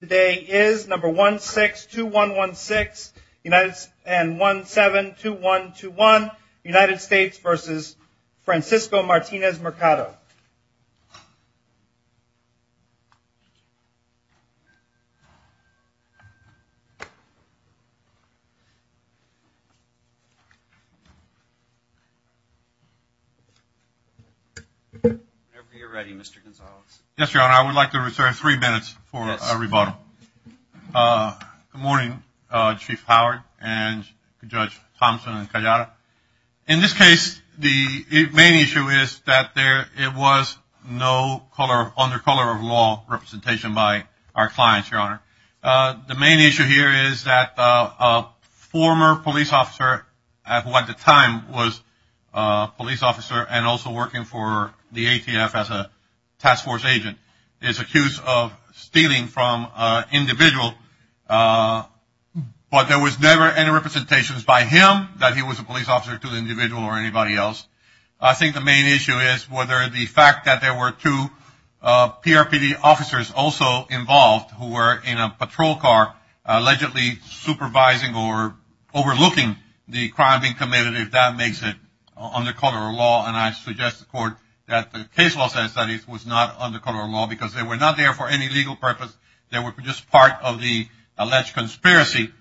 Today is number 162116 and 172121, United States v. Francisco Martinez-Mercado. Whenever you're ready, Mr. Gonzales. Yes, Your Honor, I would like to reserve three minutes for a rebuttal. Good morning, Chief Howard and Judge Thompson and Callada. In this case, the main issue is that there it was no color under color of law representation by our clients. Your Honor, the main issue here is that a former police officer at what the time was a police officer and also working for the ATF as a task force agent is accused of stealing from individual. But there was never any representations by him that he was a police officer to the individual or anybody else. I think the main issue is whether the fact that there were two PRPD officers also involved who were in a patrol car allegedly supervising or overlooking the crime being committed, if that makes it under color of law. And I suggest the court that the case law says that it was not under color of law because they were not there for any legal purpose. They were just part of the alleged conspiracy.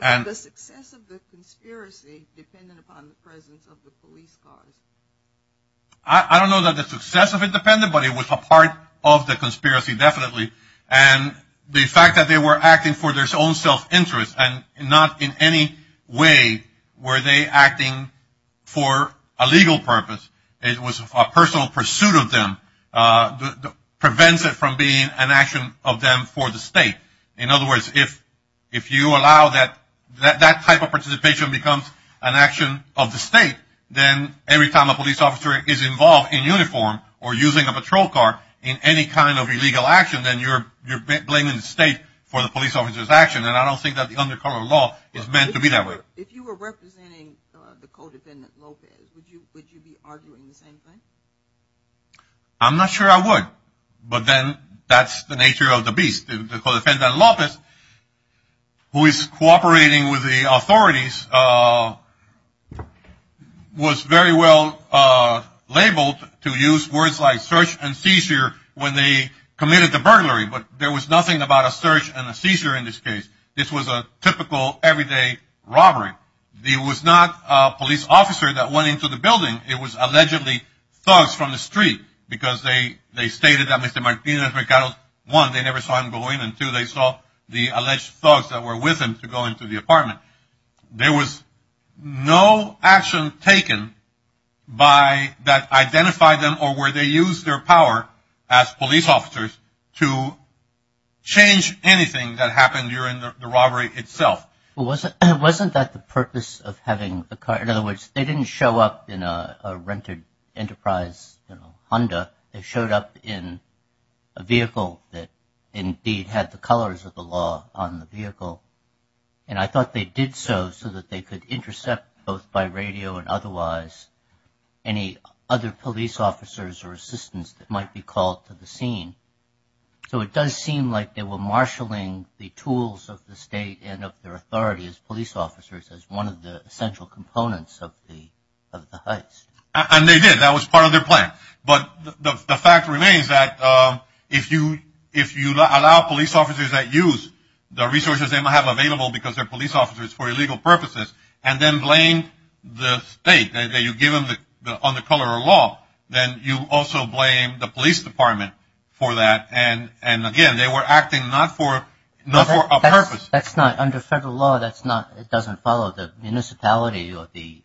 And the success of the conspiracy depended upon the presence of the police car. I don't know that the success of it depended, but it was a part of the conspiracy, definitely. And the fact that they were acting for their own self-interest and not in any way were they acting for a legal purpose, it was a personal pursuit of them, prevents it from being an action of them for the state. In other words, if you allow that type of participation becomes an action of the state, then every time a police officer is involved in uniform or using a patrol car in any kind of illegal action, then you're blaming the state for the police officer's action. And I don't think that the under color of law is meant to be that way. If you were representing the codependent Lopez, would you be arguing the same thing? I'm not sure I would. But then that's the nature of the beast. The codependent Lopez, who is cooperating with the authorities, was very well labeled to use words like search and seizure when they committed the burglary. But there was nothing about a search and a seizure in this case. This was a typical everyday robbery. There was not a police officer that went into the building. It was allegedly thugs from the street because they stated that Mr. Martinez-Mercado, one, they never saw him go in, and two, they saw the alleged thugs that were with him to go into the apartment. There was no action taken that identified them or where they used their power as police officers to change anything that happened during the robbery itself. Well, wasn't that the purpose of having the car? In other words, they didn't show up in a rented Enterprise Honda. They showed up in a vehicle that indeed had the colors of the law on the vehicle. And I thought they did so so that they could intercept both by radio and otherwise any other police officers or assistants that might be called to the scene. So it does seem like they were marshaling the tools of the state and of their authority as police officers as one of the essential components of the heist. And they did. That was part of their plan. But the fact remains that if you allow police officers that use the resources they may have available because they're police officers for illegal purposes and then blame the state, you give them on the color of law, then you also blame the police department for that. And again, they were acting not for a purpose. That's not under federal law. That's not it doesn't follow the municipality or the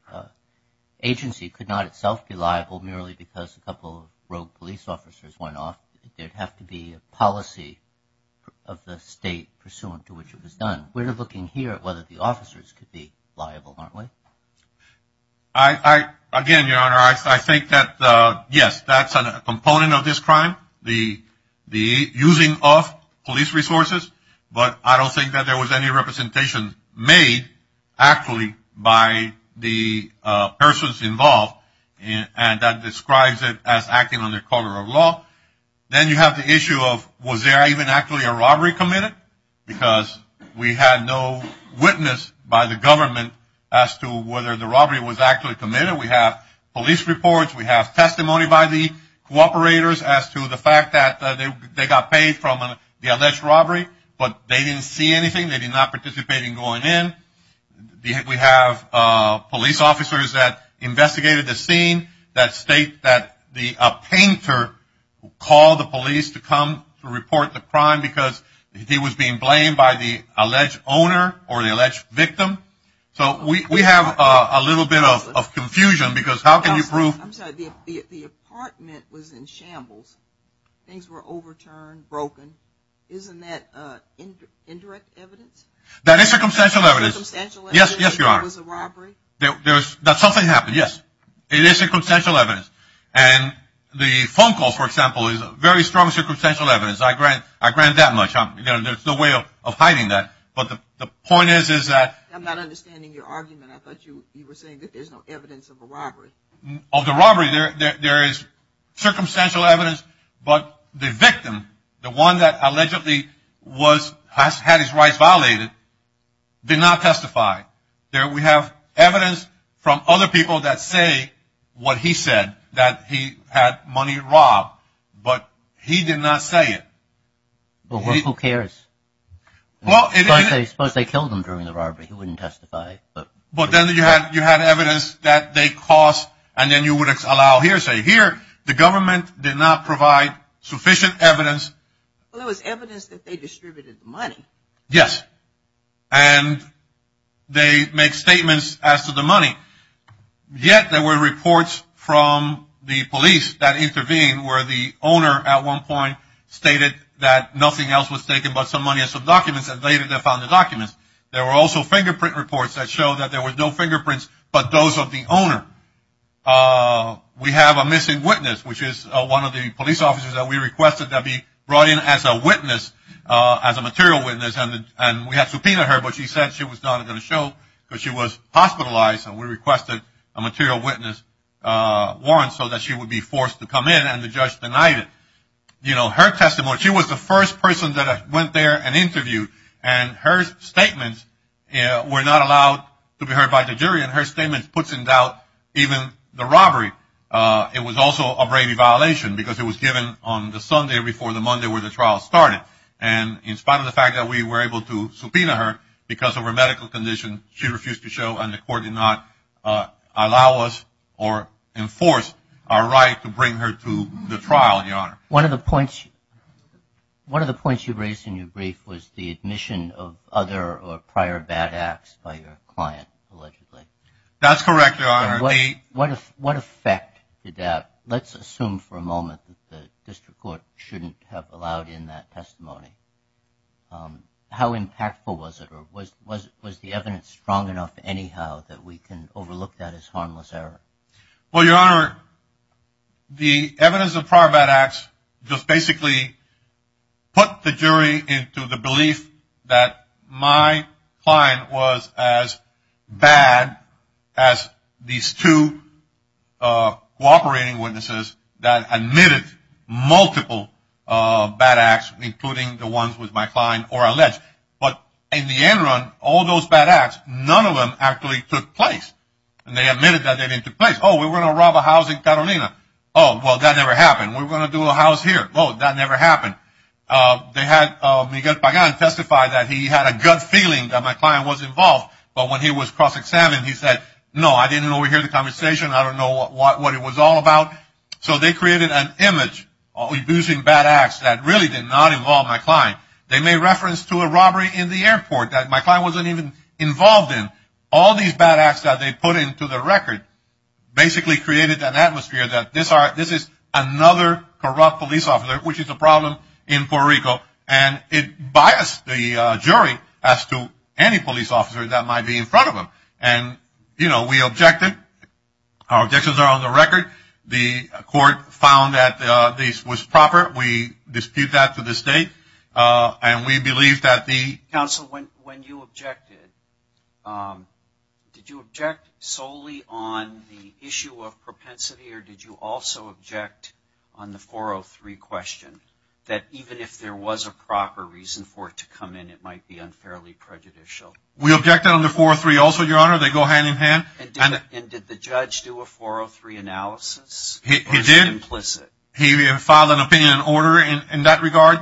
agency could not itself be liable merely because a couple of police officers went off. There'd have to be a policy of the state pursuant to which it was done. We're looking here at whether the officers could be liable, aren't we? I again, Your Honor, I think that, yes, that's a component of this crime. The the using of police resources. But I don't think that there was any representation made actually by the persons involved. And that describes it as acting on the color of law. Then you have the issue of was there even actually a robbery committed? Because we had no witness by the government as to whether the robbery was actually committed. We have police reports. We have testimony by the cooperators as to the fact that they got paid from the alleged robbery, but they didn't see anything. They did not participate in going in. We have police officers that investigated the scene that state that the painter called the police to come to report the crime because he was being blamed by the alleged owner or the alleged victim. So we have a little bit of confusion because how can you prove the apartment was in shambles? Things were overturned, broken. Isn't that indirect evidence? That is circumstantial evidence. Yes, yes, Your Honor. That something happened, yes. It is circumstantial evidence. And the phone call, for example, is very strong circumstantial evidence. I grant that much. There's no way of hiding that. But the point is, is that. I'm not understanding your argument. I thought you were saying that there's no evidence of a robbery. Of the robbery, there is circumstantial evidence. But the victim, the one that allegedly was has had his rights violated, did not testify there. We have evidence from other people that say what he said, that he had money robbed, but he did not say it. Well, who cares? Well, I suppose they killed him during the robbery. He wouldn't testify. But then you had evidence that they caused, and then you would allow hearsay. Here, the government did not provide sufficient evidence. Well, there was evidence that they distributed the money. Yes. And they make statements as to the money. Yet there were reports from the police that intervened where the owner, at one point, stated that nothing else was taken but some money and some documents, and later they found the documents. There were also fingerprint reports that showed that there were no fingerprints but those of the owner. We have a missing witness, which is one of the police officers that we requested that be brought in as a witness, as a material witness, and we had subpoenaed her, but she said she was not going to show, because she was hospitalized and we requested a material witness warrant so that she would be forced to come in, and the judge denied it. You know, her testimony, she was the first person that went there and interviewed, and her statements were not allowed to be heard by the jury, and her statement puts in doubt even the robbery. It was also a Brady violation because it was given on the Sunday before the Monday where the trial started, and in spite of the fact that we were able to subpoena her because of her medical condition, she refused to show and the court did not allow us or enforce our right to bring her to the trial, Your Honor. One of the points you raised in your brief was the admission of other or prior bad acts by your client, allegedly. That's correct, Your Honor. What effect did that, let's assume for a moment that the district court shouldn't have allowed in that testimony? How impactful was it or was the evidence strong enough anyhow that we can overlook that as harmless error? Well, Your Honor, the evidence of prior bad acts just basically put the jury into the belief that my client was as bad as these two cooperating witnesses that admitted multiple bad acts, including the ones with my client or alleged. But in the end run, all those bad acts, none of them actually took place, and they admitted that they didn't take place. Oh, we're going to rob a house in Catalina. Oh, well, that never happened. We're going to do a house here. Oh, that never happened. They had Miguel Pagan testify that he had a gut feeling that my client was involved, but when he was cross-examined, he said, no, I didn't overhear the conversation. I don't know what it was all about. So they created an image of abusing bad acts that really did not involve my client. They made reference to a robbery in the airport that my client wasn't even involved in. All these bad acts that they put into the record basically created an atmosphere that this is another corrupt police officer, which is a problem in Puerto Rico, and it biased the jury as to any police officer that might be in front of them. And, you know, we objected. Our objections are on the record. The court found that this was proper. We dispute that to this date, and we believe that the – Counsel, when you objected, did you object solely on the issue of propensity, or did you also object on the 403 question, that even if there was a proper reason for it to come in, it might be unfairly prejudicial? We objected on the 403 also, Your Honor. They go hand in hand. He did. Or is it implicit? He filed an opinion in order in that regard,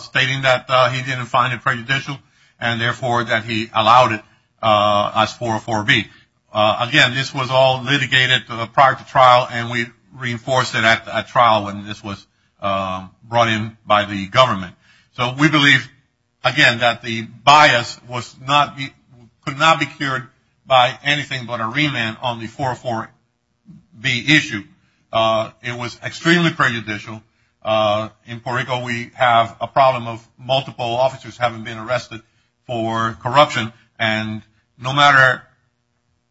stating that he didn't find it prejudicial and therefore that he allowed it as 404B. Again, this was all litigated prior to trial, and we reinforced it at trial when this was brought in by the government. So we believe, again, that the bias could not be cured by anything but a remand on the 404B issue. It was extremely prejudicial. In Puerto Rico, we have a problem of multiple officers having been arrested for corruption, and no matter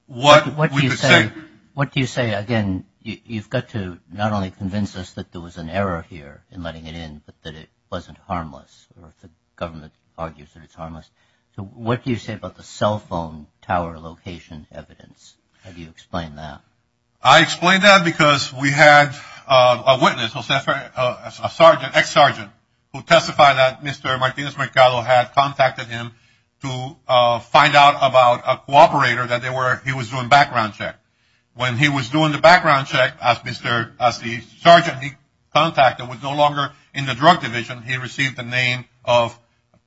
what we could say. What do you say? Again, you've got to not only convince us that there was an error here in letting it in, but that it wasn't harmless, or the government argues that it's harmless. So what do you say about the cell phone tower location evidence? How do you explain that? I explain that because we had a witness, a sergeant, ex-sergeant, who testified that Mr. Martinez-Mercado had contacted him to find out about a cooperator that he was doing background check. When he was doing the background check, as the sergeant he contacted was no longer in the drug division, he received the name of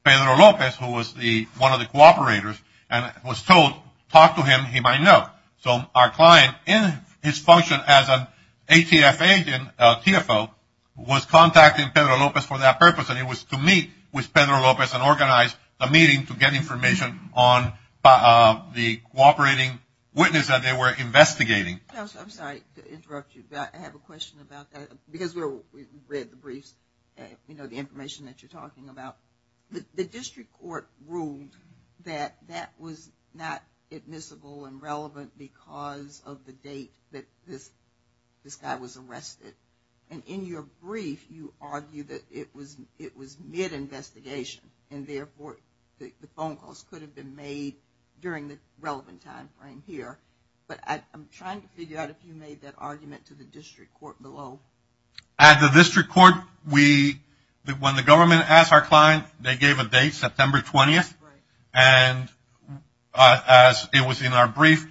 Pedro Lopez, who was one of the cooperators, and was told, talk to him, he might know. So our client, in his function as an ATF agent, TFO, was contacting Pedro Lopez for that purpose, and it was to meet with Pedro Lopez and organize a meeting to get information on the cooperating witness that they were investigating. I'm sorry to interrupt you, but I have a question about that. Because we read the briefs, you know, the information that you're talking about. The district court ruled that that was not admissible and relevant because of the date that this guy was arrested. And in your brief, you argue that it was mid-investigation, and therefore the phone calls could have been made during the relevant time frame here. But I'm trying to figure out if you made that argument to the district court below. At the district court, when the government asked our client, they gave a date, September 20th. And as it was in our brief,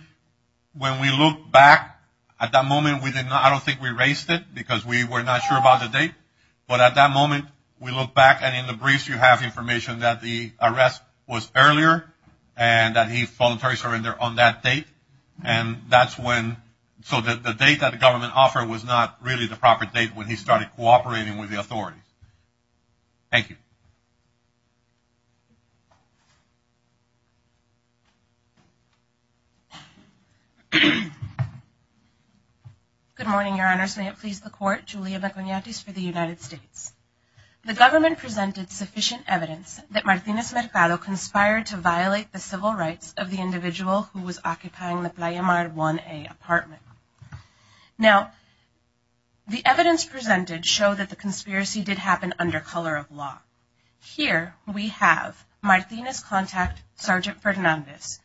when we looked back at that moment, I don't think we erased it because we were not sure about the date. But at that moment, we looked back, and in the briefs you have information that the arrest was earlier, and that he voluntarily surrendered on that date. So the date that the government offered was not really the proper date when he started cooperating with the authority. Thank you. Good morning, Your Honors. May it please the Court. Julia McIgnatis for the United States. The government presented sufficient evidence that Martinez Mercado conspired to violate the civil rights of the individual who was occupying the Playa Mar 1A apartment. Now, the evidence presented showed that the conspiracy did happen under color of law. Here we have Martinez contact Sergeant Fernandez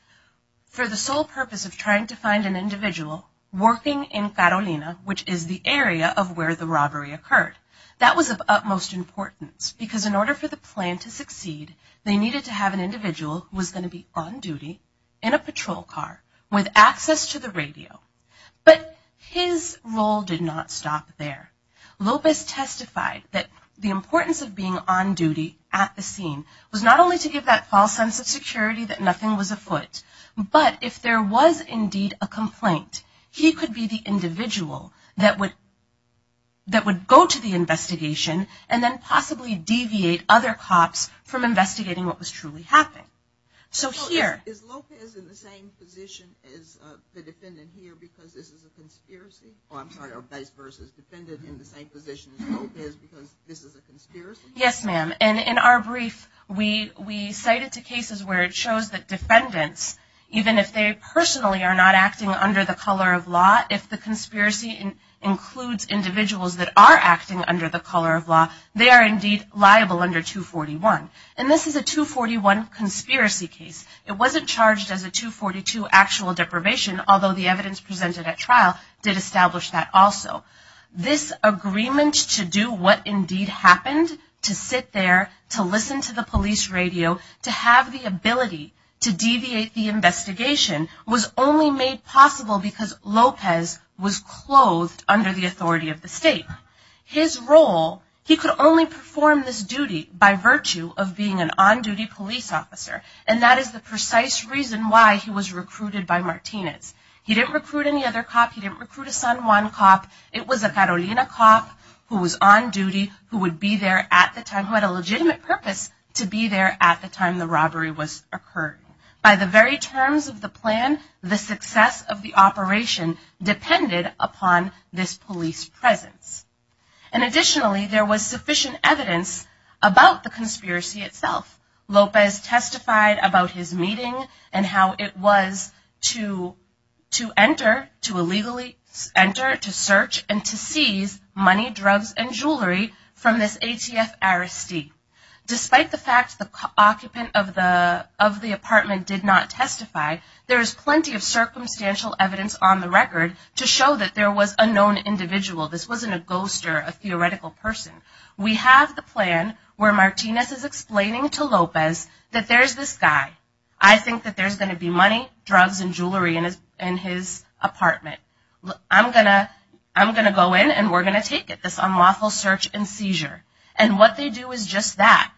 for the sole purpose of trying to find an individual working in Carolina, which is the area of where the robbery occurred. That was of utmost importance because in order for the plan to succeed, they needed to have an individual who was going to be on duty in a patrol car with access to the radio. But his role did not stop there. Lopez testified that the importance of being on duty at the scene was not only to give that false sense of security that nothing was afoot, but if there was indeed a complaint, he could be the individual that would go to the investigation and then possibly deviate other cops from investigating what was truly happening. So here... Is Lopez in the same position as the defendant here because this is a conspiracy? Oh, I'm sorry, or vice versa. Is the defendant in the same position as Lopez because this is a conspiracy? Yes, ma'am. And in our brief, we cite it to cases where it shows that defendants, even if they personally are not acting under the color of law, if the conspiracy includes individuals that are acting under the color of law, they are indeed liable under 241. And this is a 241 conspiracy case. It wasn't charged as a 242 actual deprivation, although the evidence presented at trial did establish that also. This agreement to do what indeed happened, to sit there, to listen to the police radio, to have the ability to deviate the investigation, was only made possible because Lopez was clothed under the authority of the state. His role, he could only perform this duty by virtue of being an on-duty police officer, and that is the precise reason why he was recruited by Martinez. He didn't recruit any other cop. He didn't recruit a San Juan cop. It was a Carolina cop who was on duty, who would be there at the time, who had a legitimate purpose to be there at the time the robbery occurred. By the very terms of the plan, the success of the operation depended upon this police presence. And additionally, there was sufficient evidence about the conspiracy itself. Lopez testified about his meeting and how it was to enter, to illegally enter, to search, and to seize money, drugs, and jewelry from this ATF arrestee. Despite the fact the occupant of the apartment did not testify, there is plenty of circumstantial evidence on the record to show that there was a known individual. This wasn't a ghost or a theoretical person. We have the plan where Martinez is explaining to Lopez that there's this guy. I think that there's going to be money, drugs, and jewelry in his apartment. I'm going to go in and we're going to take it, this unlawful search and seizure. And what they do is just that.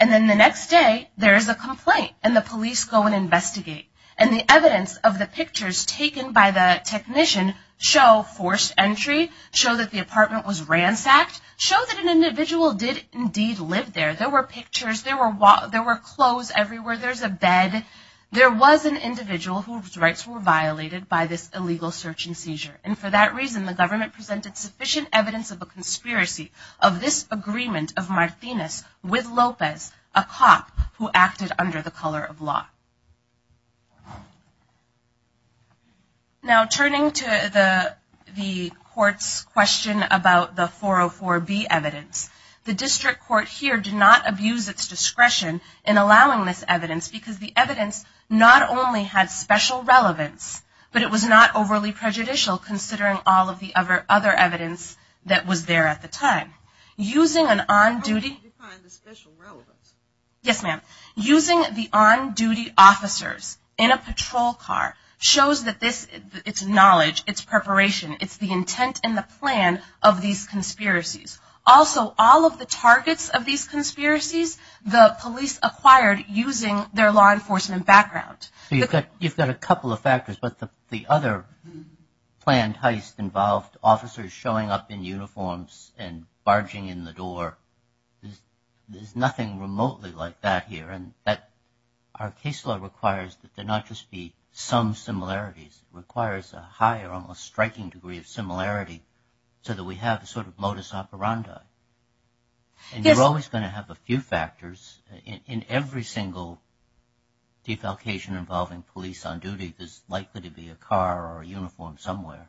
And then the next day, there is a complaint and the police go and investigate. And the evidence of the pictures taken by the technician show forced entry, show that the apartment was ransacked, show that an individual did indeed live there. There were pictures, there were clothes everywhere, there's a bed. There was an individual whose rights were violated by this illegal search and seizure. And for that reason, the government presented sufficient evidence of a conspiracy of this agreement of Martinez with Lopez, a cop who acted under the color of law. Now turning to the court's question about the 404B evidence, the district court here did not abuse its discretion in allowing this evidence because the evidence not only had special relevance, but it was not overly prejudicial considering all of the other evidence that was there at the time. Using an on-duty... How do you define the special relevance? Yes, ma'am. Using the on-duty officers in a patrol car shows that it's knowledge, it's preparation, it's the intent and the plan of these conspiracies. Also, all of the targets of these conspiracies, the police acquired using their law enforcement background. So you've got a couple of factors, but the other planned heist involved officers showing up in uniforms and barging in the door. There's nothing remotely like that here. Our case law requires that there not just be some similarities, it requires a high or almost striking degree of similarity so that we have a sort of modus operandi. And you're always going to have a few factors in every single defalcation involving police on duty. There's likely to be a car or a uniform somewhere.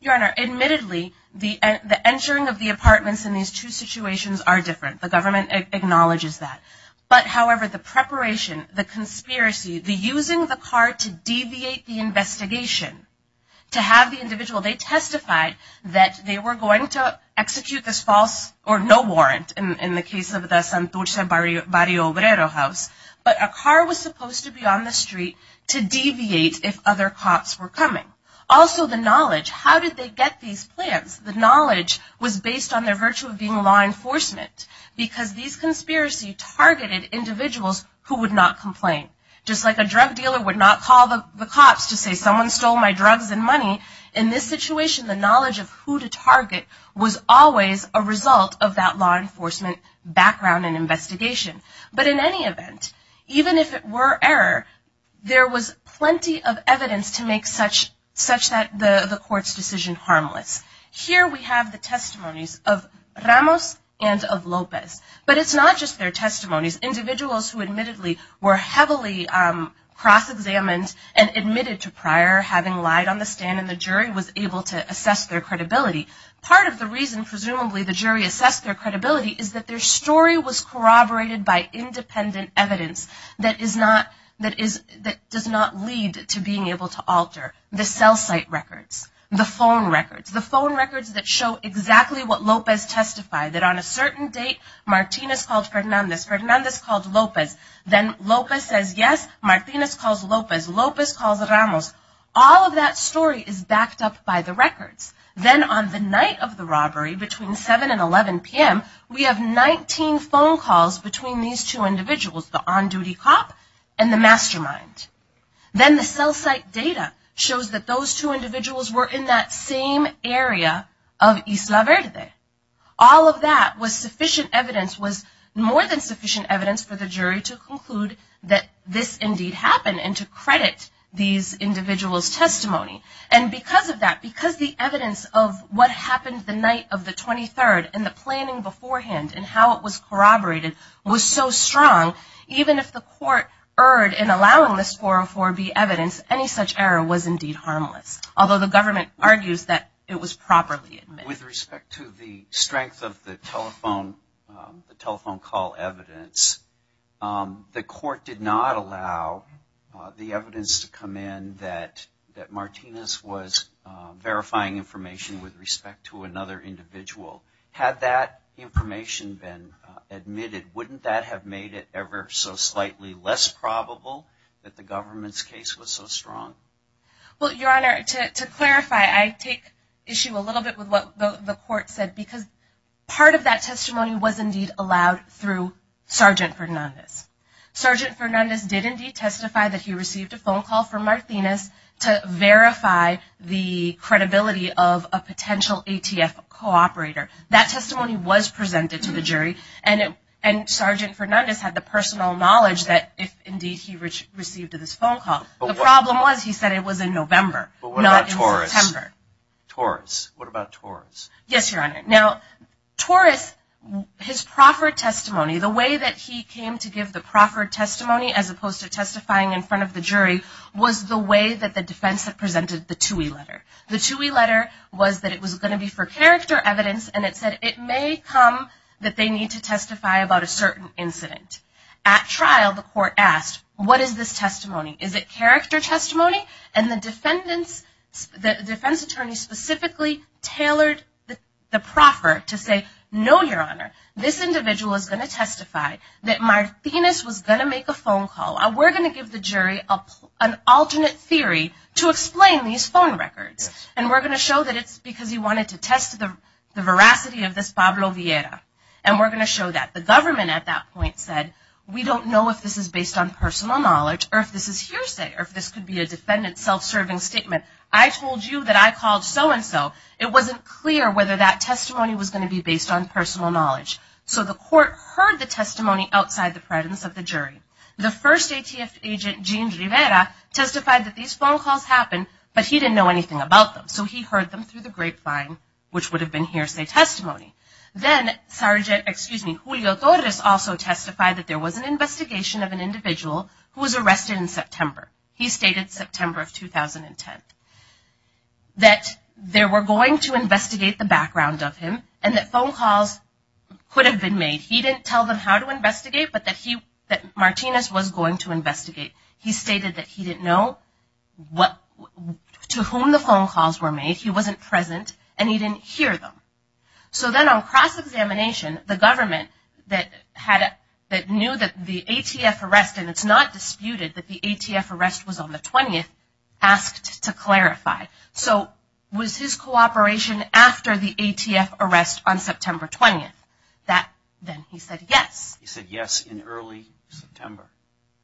Your Honor, admittedly, the entering of the apartments in these two situations are different. The government acknowledges that. But, however, the preparation, the conspiracy, the using the car to deviate the investigation, to have the individual, they testified that they were going to execute this false or no warrant in the case of the Santurce Barrio Obrero house, but a car was supposed to be on the street to deviate if other cops were coming. Also, the knowledge, how did they get these plans? The knowledge was based on their virtue of being law enforcement because these conspiracies targeted individuals who would not complain. Just like a drug dealer would not call the cops to say someone stole my drugs and money, in this situation the knowledge of who to target was always a result of that law enforcement background and investigation. But in any event, even if it were error, there was plenty of evidence to make such that the court's decision harmless. Here we have the testimonies of Ramos and of Lopez. But it's not just their testimonies. Individuals who admittedly were heavily cross-examined and admitted to prior having lied on the stand and the jury was able to assess their credibility. Part of the reason, presumably, the jury assessed their credibility is that their story was corroborated by independent evidence that does not lead to being able to alter the cell site records, the phone records, the phone records that show exactly what Lopez testified. That on a certain date, Martinez called Fernandez. Fernandez called Lopez. Then Lopez says yes. Martinez calls Lopez. Lopez calls Ramos. All of that story is backed up by the records. Then on the night of the robbery, between 7 and 11 p.m., we have 19 phone calls between these two individuals, the on-duty cop and the mastermind. Then the cell site data shows that those two individuals were in that same area of Isla Verde. All of that was sufficient evidence, was more than sufficient evidence for the jury to conclude that this indeed happened and to credit these individuals' testimony. And because of that, because the evidence of what happened the night of the 23rd and the planning beforehand and how it was corroborated was so strong, even if the court erred in allowing this 404B evidence, any such error was indeed harmless, although the government argues that it was properly admitted. With respect to the strength of the telephone call evidence, the court did not allow the evidence to come in that Martinez was verifying information with respect to another individual. Had that information been admitted, wouldn't that have made it ever so slightly less probable that the government's case was so strong? Well, Your Honor, to clarify, I take issue a little bit with what the court said because part of that testimony was indeed allowed through Sgt. Fernandez. Sgt. Fernandez did indeed testify that he received a phone call from Martinez to verify the credibility of a potential ATF cooperator. That testimony was presented to the jury, and Sgt. Fernandez had the personal knowledge that indeed he received this phone call. The problem was he said it was in November, not in September. But what about Torres? Yes, Your Honor. Now, Torres, his proffered testimony, the way that he came to give the proffered testimony as opposed to testifying in front of the jury, was the way that the defense had presented the Tuohy letter. The Tuohy letter was that it was going to be for character evidence, and it said it may come that they need to testify about a certain incident. At trial, the court asked, what is this testimony? Is it character testimony? And the defense attorney specifically tailored the proffer to say, no, Your Honor, this individual is going to testify that Martinez was going to make a phone call. We're going to give the jury an alternate theory to explain these phone records, and we're going to show that it's because he wanted to test the veracity of this Pablo Vieira, and we're going to show that. The government at that point said, we don't know if this is based on personal knowledge or if this is hearsay or if this could be a defendant's self-serving statement. I told you that I called so-and-so. It wasn't clear whether that testimony was going to be based on personal knowledge. So the court heard the testimony outside the presence of the jury. The first ATF agent, Gene Rivera, testified that these phone calls happened, but he didn't know anything about them. So he heard them through the grapevine, which would have been hearsay testimony. Then Julio Torres also testified that there was an investigation of an individual who was arrested in September. He stated September of 2010. That they were going to investigate the background of him, and that phone calls could have been made. He didn't tell them how to investigate, but that Martinez was going to investigate. He stated that he didn't know to whom the phone calls were made. He wasn't present, and he didn't hear them. So then on cross-examination, the government that knew that the ATF arrest, and it's not disputed that the ATF arrest was on the 20th, asked to clarify. So was his cooperation after the ATF arrest on September 20th? Then he said yes. He said yes in early September.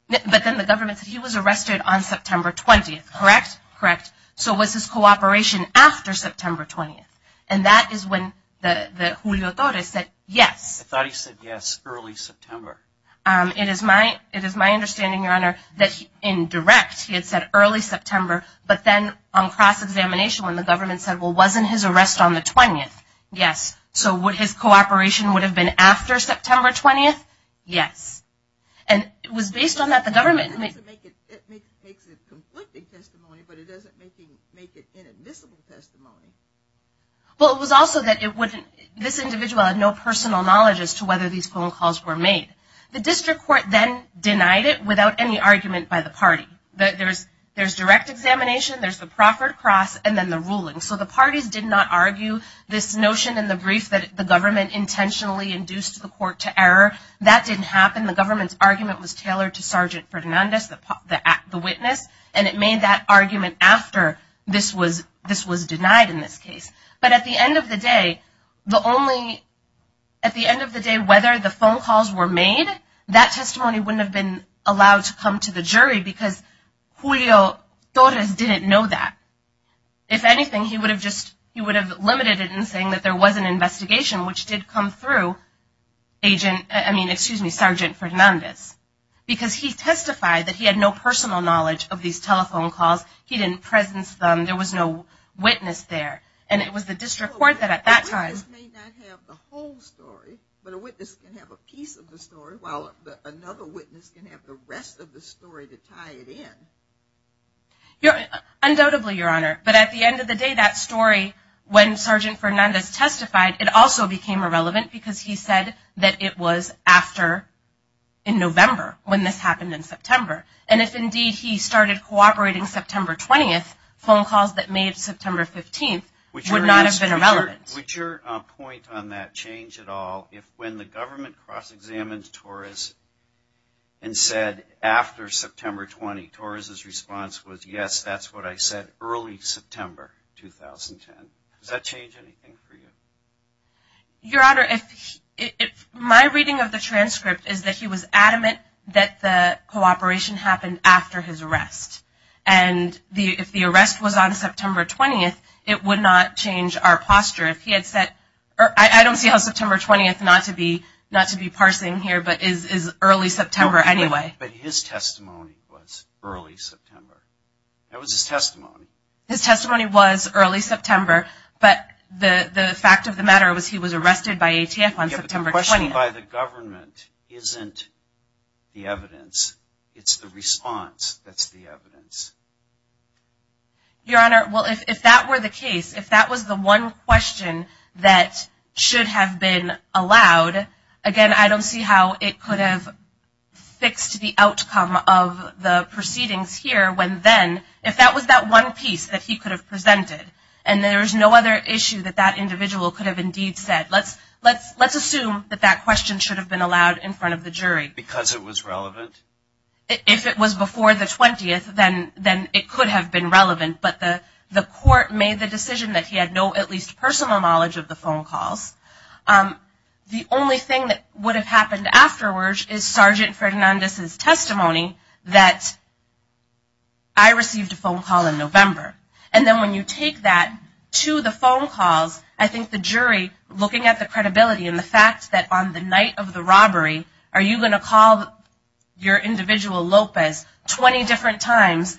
But then the government said he was arrested on September 20th, correct? Correct. So was his cooperation after September 20th? And that is when Julio Torres said yes. I thought he said yes early September. It is my understanding, Your Honor, that in direct he had said early September, but then on cross-examination when the government said, well wasn't his arrest on the 20th? Yes. So would his cooperation would have been after September 20th? Yes. And it was based on that the government made it. It makes it conflicting testimony, but it doesn't make it inadmissible testimony. Well, it was also that this individual had no personal knowledge as to whether these phone calls were made. The district court then denied it without any argument by the party. There's direct examination, there's the proffered cross, and then the ruling. So the parties did not argue this notion in the brief that the government intentionally induced the court to error. That didn't happen. The government's argument was tailored to Sergeant Fernandez, the witness, and it made that argument after this was denied in this case. But at the end of the day, whether the phone calls were made, that testimony wouldn't have been allowed to come to the jury because Julio Torres didn't know that. If anything, he would have limited it in saying that there was an investigation which did come through Sergeant Fernandez because he testified that he had no personal knowledge of these telephone calls. He didn't presence them. There was no witness there. And it was the district court that at that time. A witness may not have the whole story, but a witness can have a piece of the story while another witness can have the rest of the story to tie it in. Undoubtedly, Your Honor. But at the end of the day, that story, when Sergeant Fernandez testified, it also became irrelevant because he said that it was after in November when this happened in September. And if indeed he started cooperating September 20th, phone calls that made September 15th would not have been relevant. Would your point on that change at all if when the government cross-examined Torres and said after September 20, Torres' response was yes, that's what I said early September 2010. Does that change anything for you? Your Honor, my reading of the transcript is that he was adamant that the cooperation happened after his arrest. And if the arrest was on September 20th, it would not change our posture. I don't see how September 20th, not to be parsing here, but is early September anyway. But his testimony was early September. That was his testimony. His testimony was early September, but the fact of the matter was he was arrested by ATF on September 20th. Being by the government isn't the evidence. It's the response that's the evidence. Your Honor, well, if that were the case, if that was the one question that should have been allowed, again, I don't see how it could have fixed the outcome of the proceedings here when then if that was that one piece that he could have presented and there was no other issue that that individual could have indeed said, let's assume that that question should have been allowed in front of the jury. Because it was relevant? If it was before the 20th, then it could have been relevant. But the court made the decision that he had no at least personal knowledge of the phone calls. The only thing that would have happened afterwards is Sergeant Fernandez's testimony that I received a phone call in November. And then when you take that to the phone calls, I think the jury, looking at the credibility and the fact that on the night of the robbery, are you going to call your individual, Lopez, 20 different times,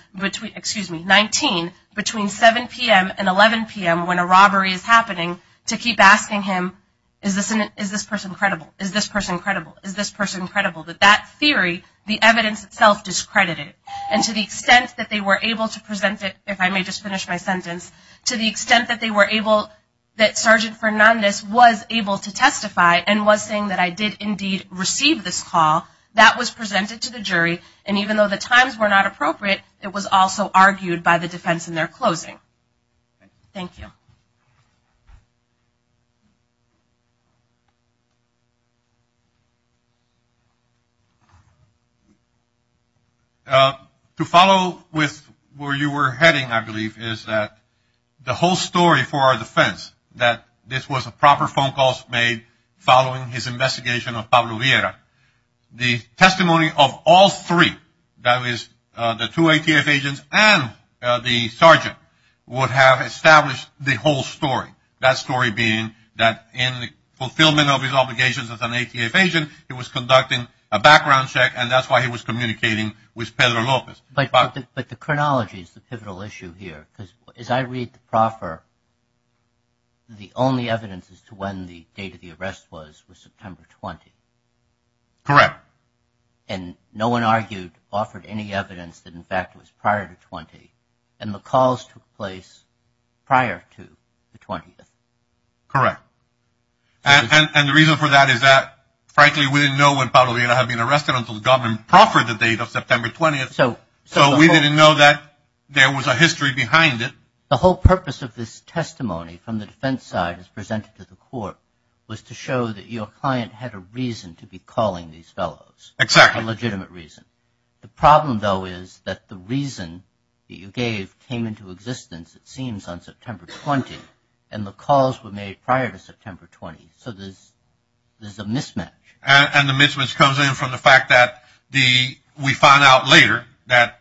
excuse me, 19, between 7 p.m. and 11 p.m. when a robbery is happening to keep asking him, is this person credible, is this person credible, is this person credible, that that theory, the evidence itself discredited. And to the extent that they were able to present it, if I may just finish my sentence, to the extent that they were able, that Sergeant Fernandez was able to testify and was saying that I did indeed receive this call, that was presented to the jury. And even though the times were not appropriate, it was also argued by the defense in their closing. Thank you. To follow with where you were heading, I believe, is that the whole story for our defense, that this was a proper phone call made following his investigation of Pablo Vieira, the testimony of all three, that is the two ATF agents and the sergeant, would have established the whole story. That story being that in the fulfillment of his obligations as an ATF agent, he was conducting a background check, and that's why he was communicating with Pedro Lopez. But the chronology is the pivotal issue here, because as I read the proffer, the only evidence as to when the date of the arrest was was September 20. Correct. And no one argued, offered any evidence that, in fact, it was prior to 20. And the calls took place prior to the 20th. Correct. And the reason for that is that, frankly, we didn't know when Pablo Vieira had been arrested until the government proffered the date of September 20th. So we didn't know that there was a history behind it. The whole purpose of this testimony from the defense side as presented to the court was to show that your client had a reason to be calling these fellows. Exactly. A legitimate reason. The problem, though, is that the reason that you gave came into existence, it seems, on September 20th, and the calls were made prior to September 20th. So there's a mismatch. And the mismatch comes in from the fact that we find out later that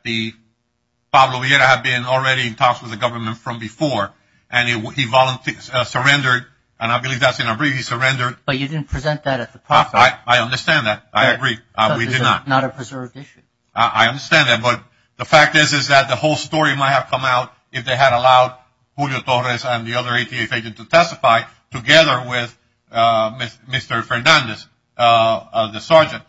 Pablo Vieira had been already in talks with the government from before, and he voluntarily surrendered, and I believe that's in a brief. He surrendered. But you didn't present that at the proffer. I understand that. I agree. We did not. It's not a preserved issue. I understand that. But the fact is that the whole story might have come out if they had allowed Julio Torres and the other ATF agent to testify together with Mr. Fernandez, the sergeant.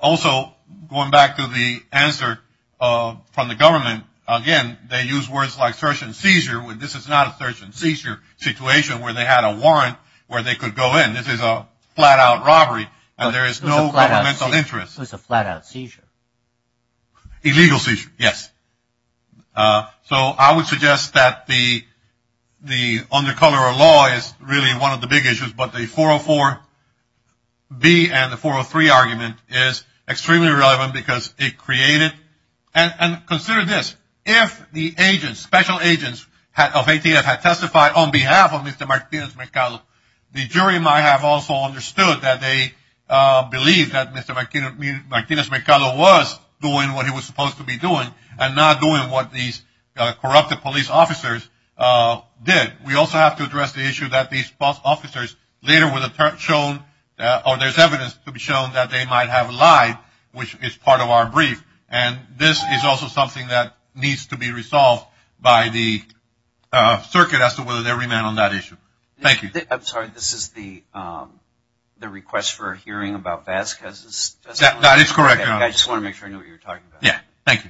Also, going back to the answer from the government, again, they use words like search and seizure. This is not a search and seizure situation where they had a warrant where they could go in. This is a flat-out robbery, and there is no governmental interest. It was a flat-out seizure. Illegal seizure, yes. So I would suggest that the undercover law is really one of the big issues, but the 404-B and the 403 argument is extremely relevant because it created – and consider this, if the agents, special agents of ATF had testified on behalf of Mr. Martinez Mercado, the jury might have also understood that they believed that Mr. Martinez Mercado was doing what he was supposed to be doing and not doing what these corrupted police officers did. We also have to address the issue that these false officers later were shown or there's evidence to be shown that they might have lied, which is part of our brief. And this is also something that needs to be resolved by the circuit as to whether they remain on that issue. Thank you. I'm sorry. This is the request for a hearing about Vasquez. That is correct. I just want to make sure I know what you're talking about. Yeah. Thank you.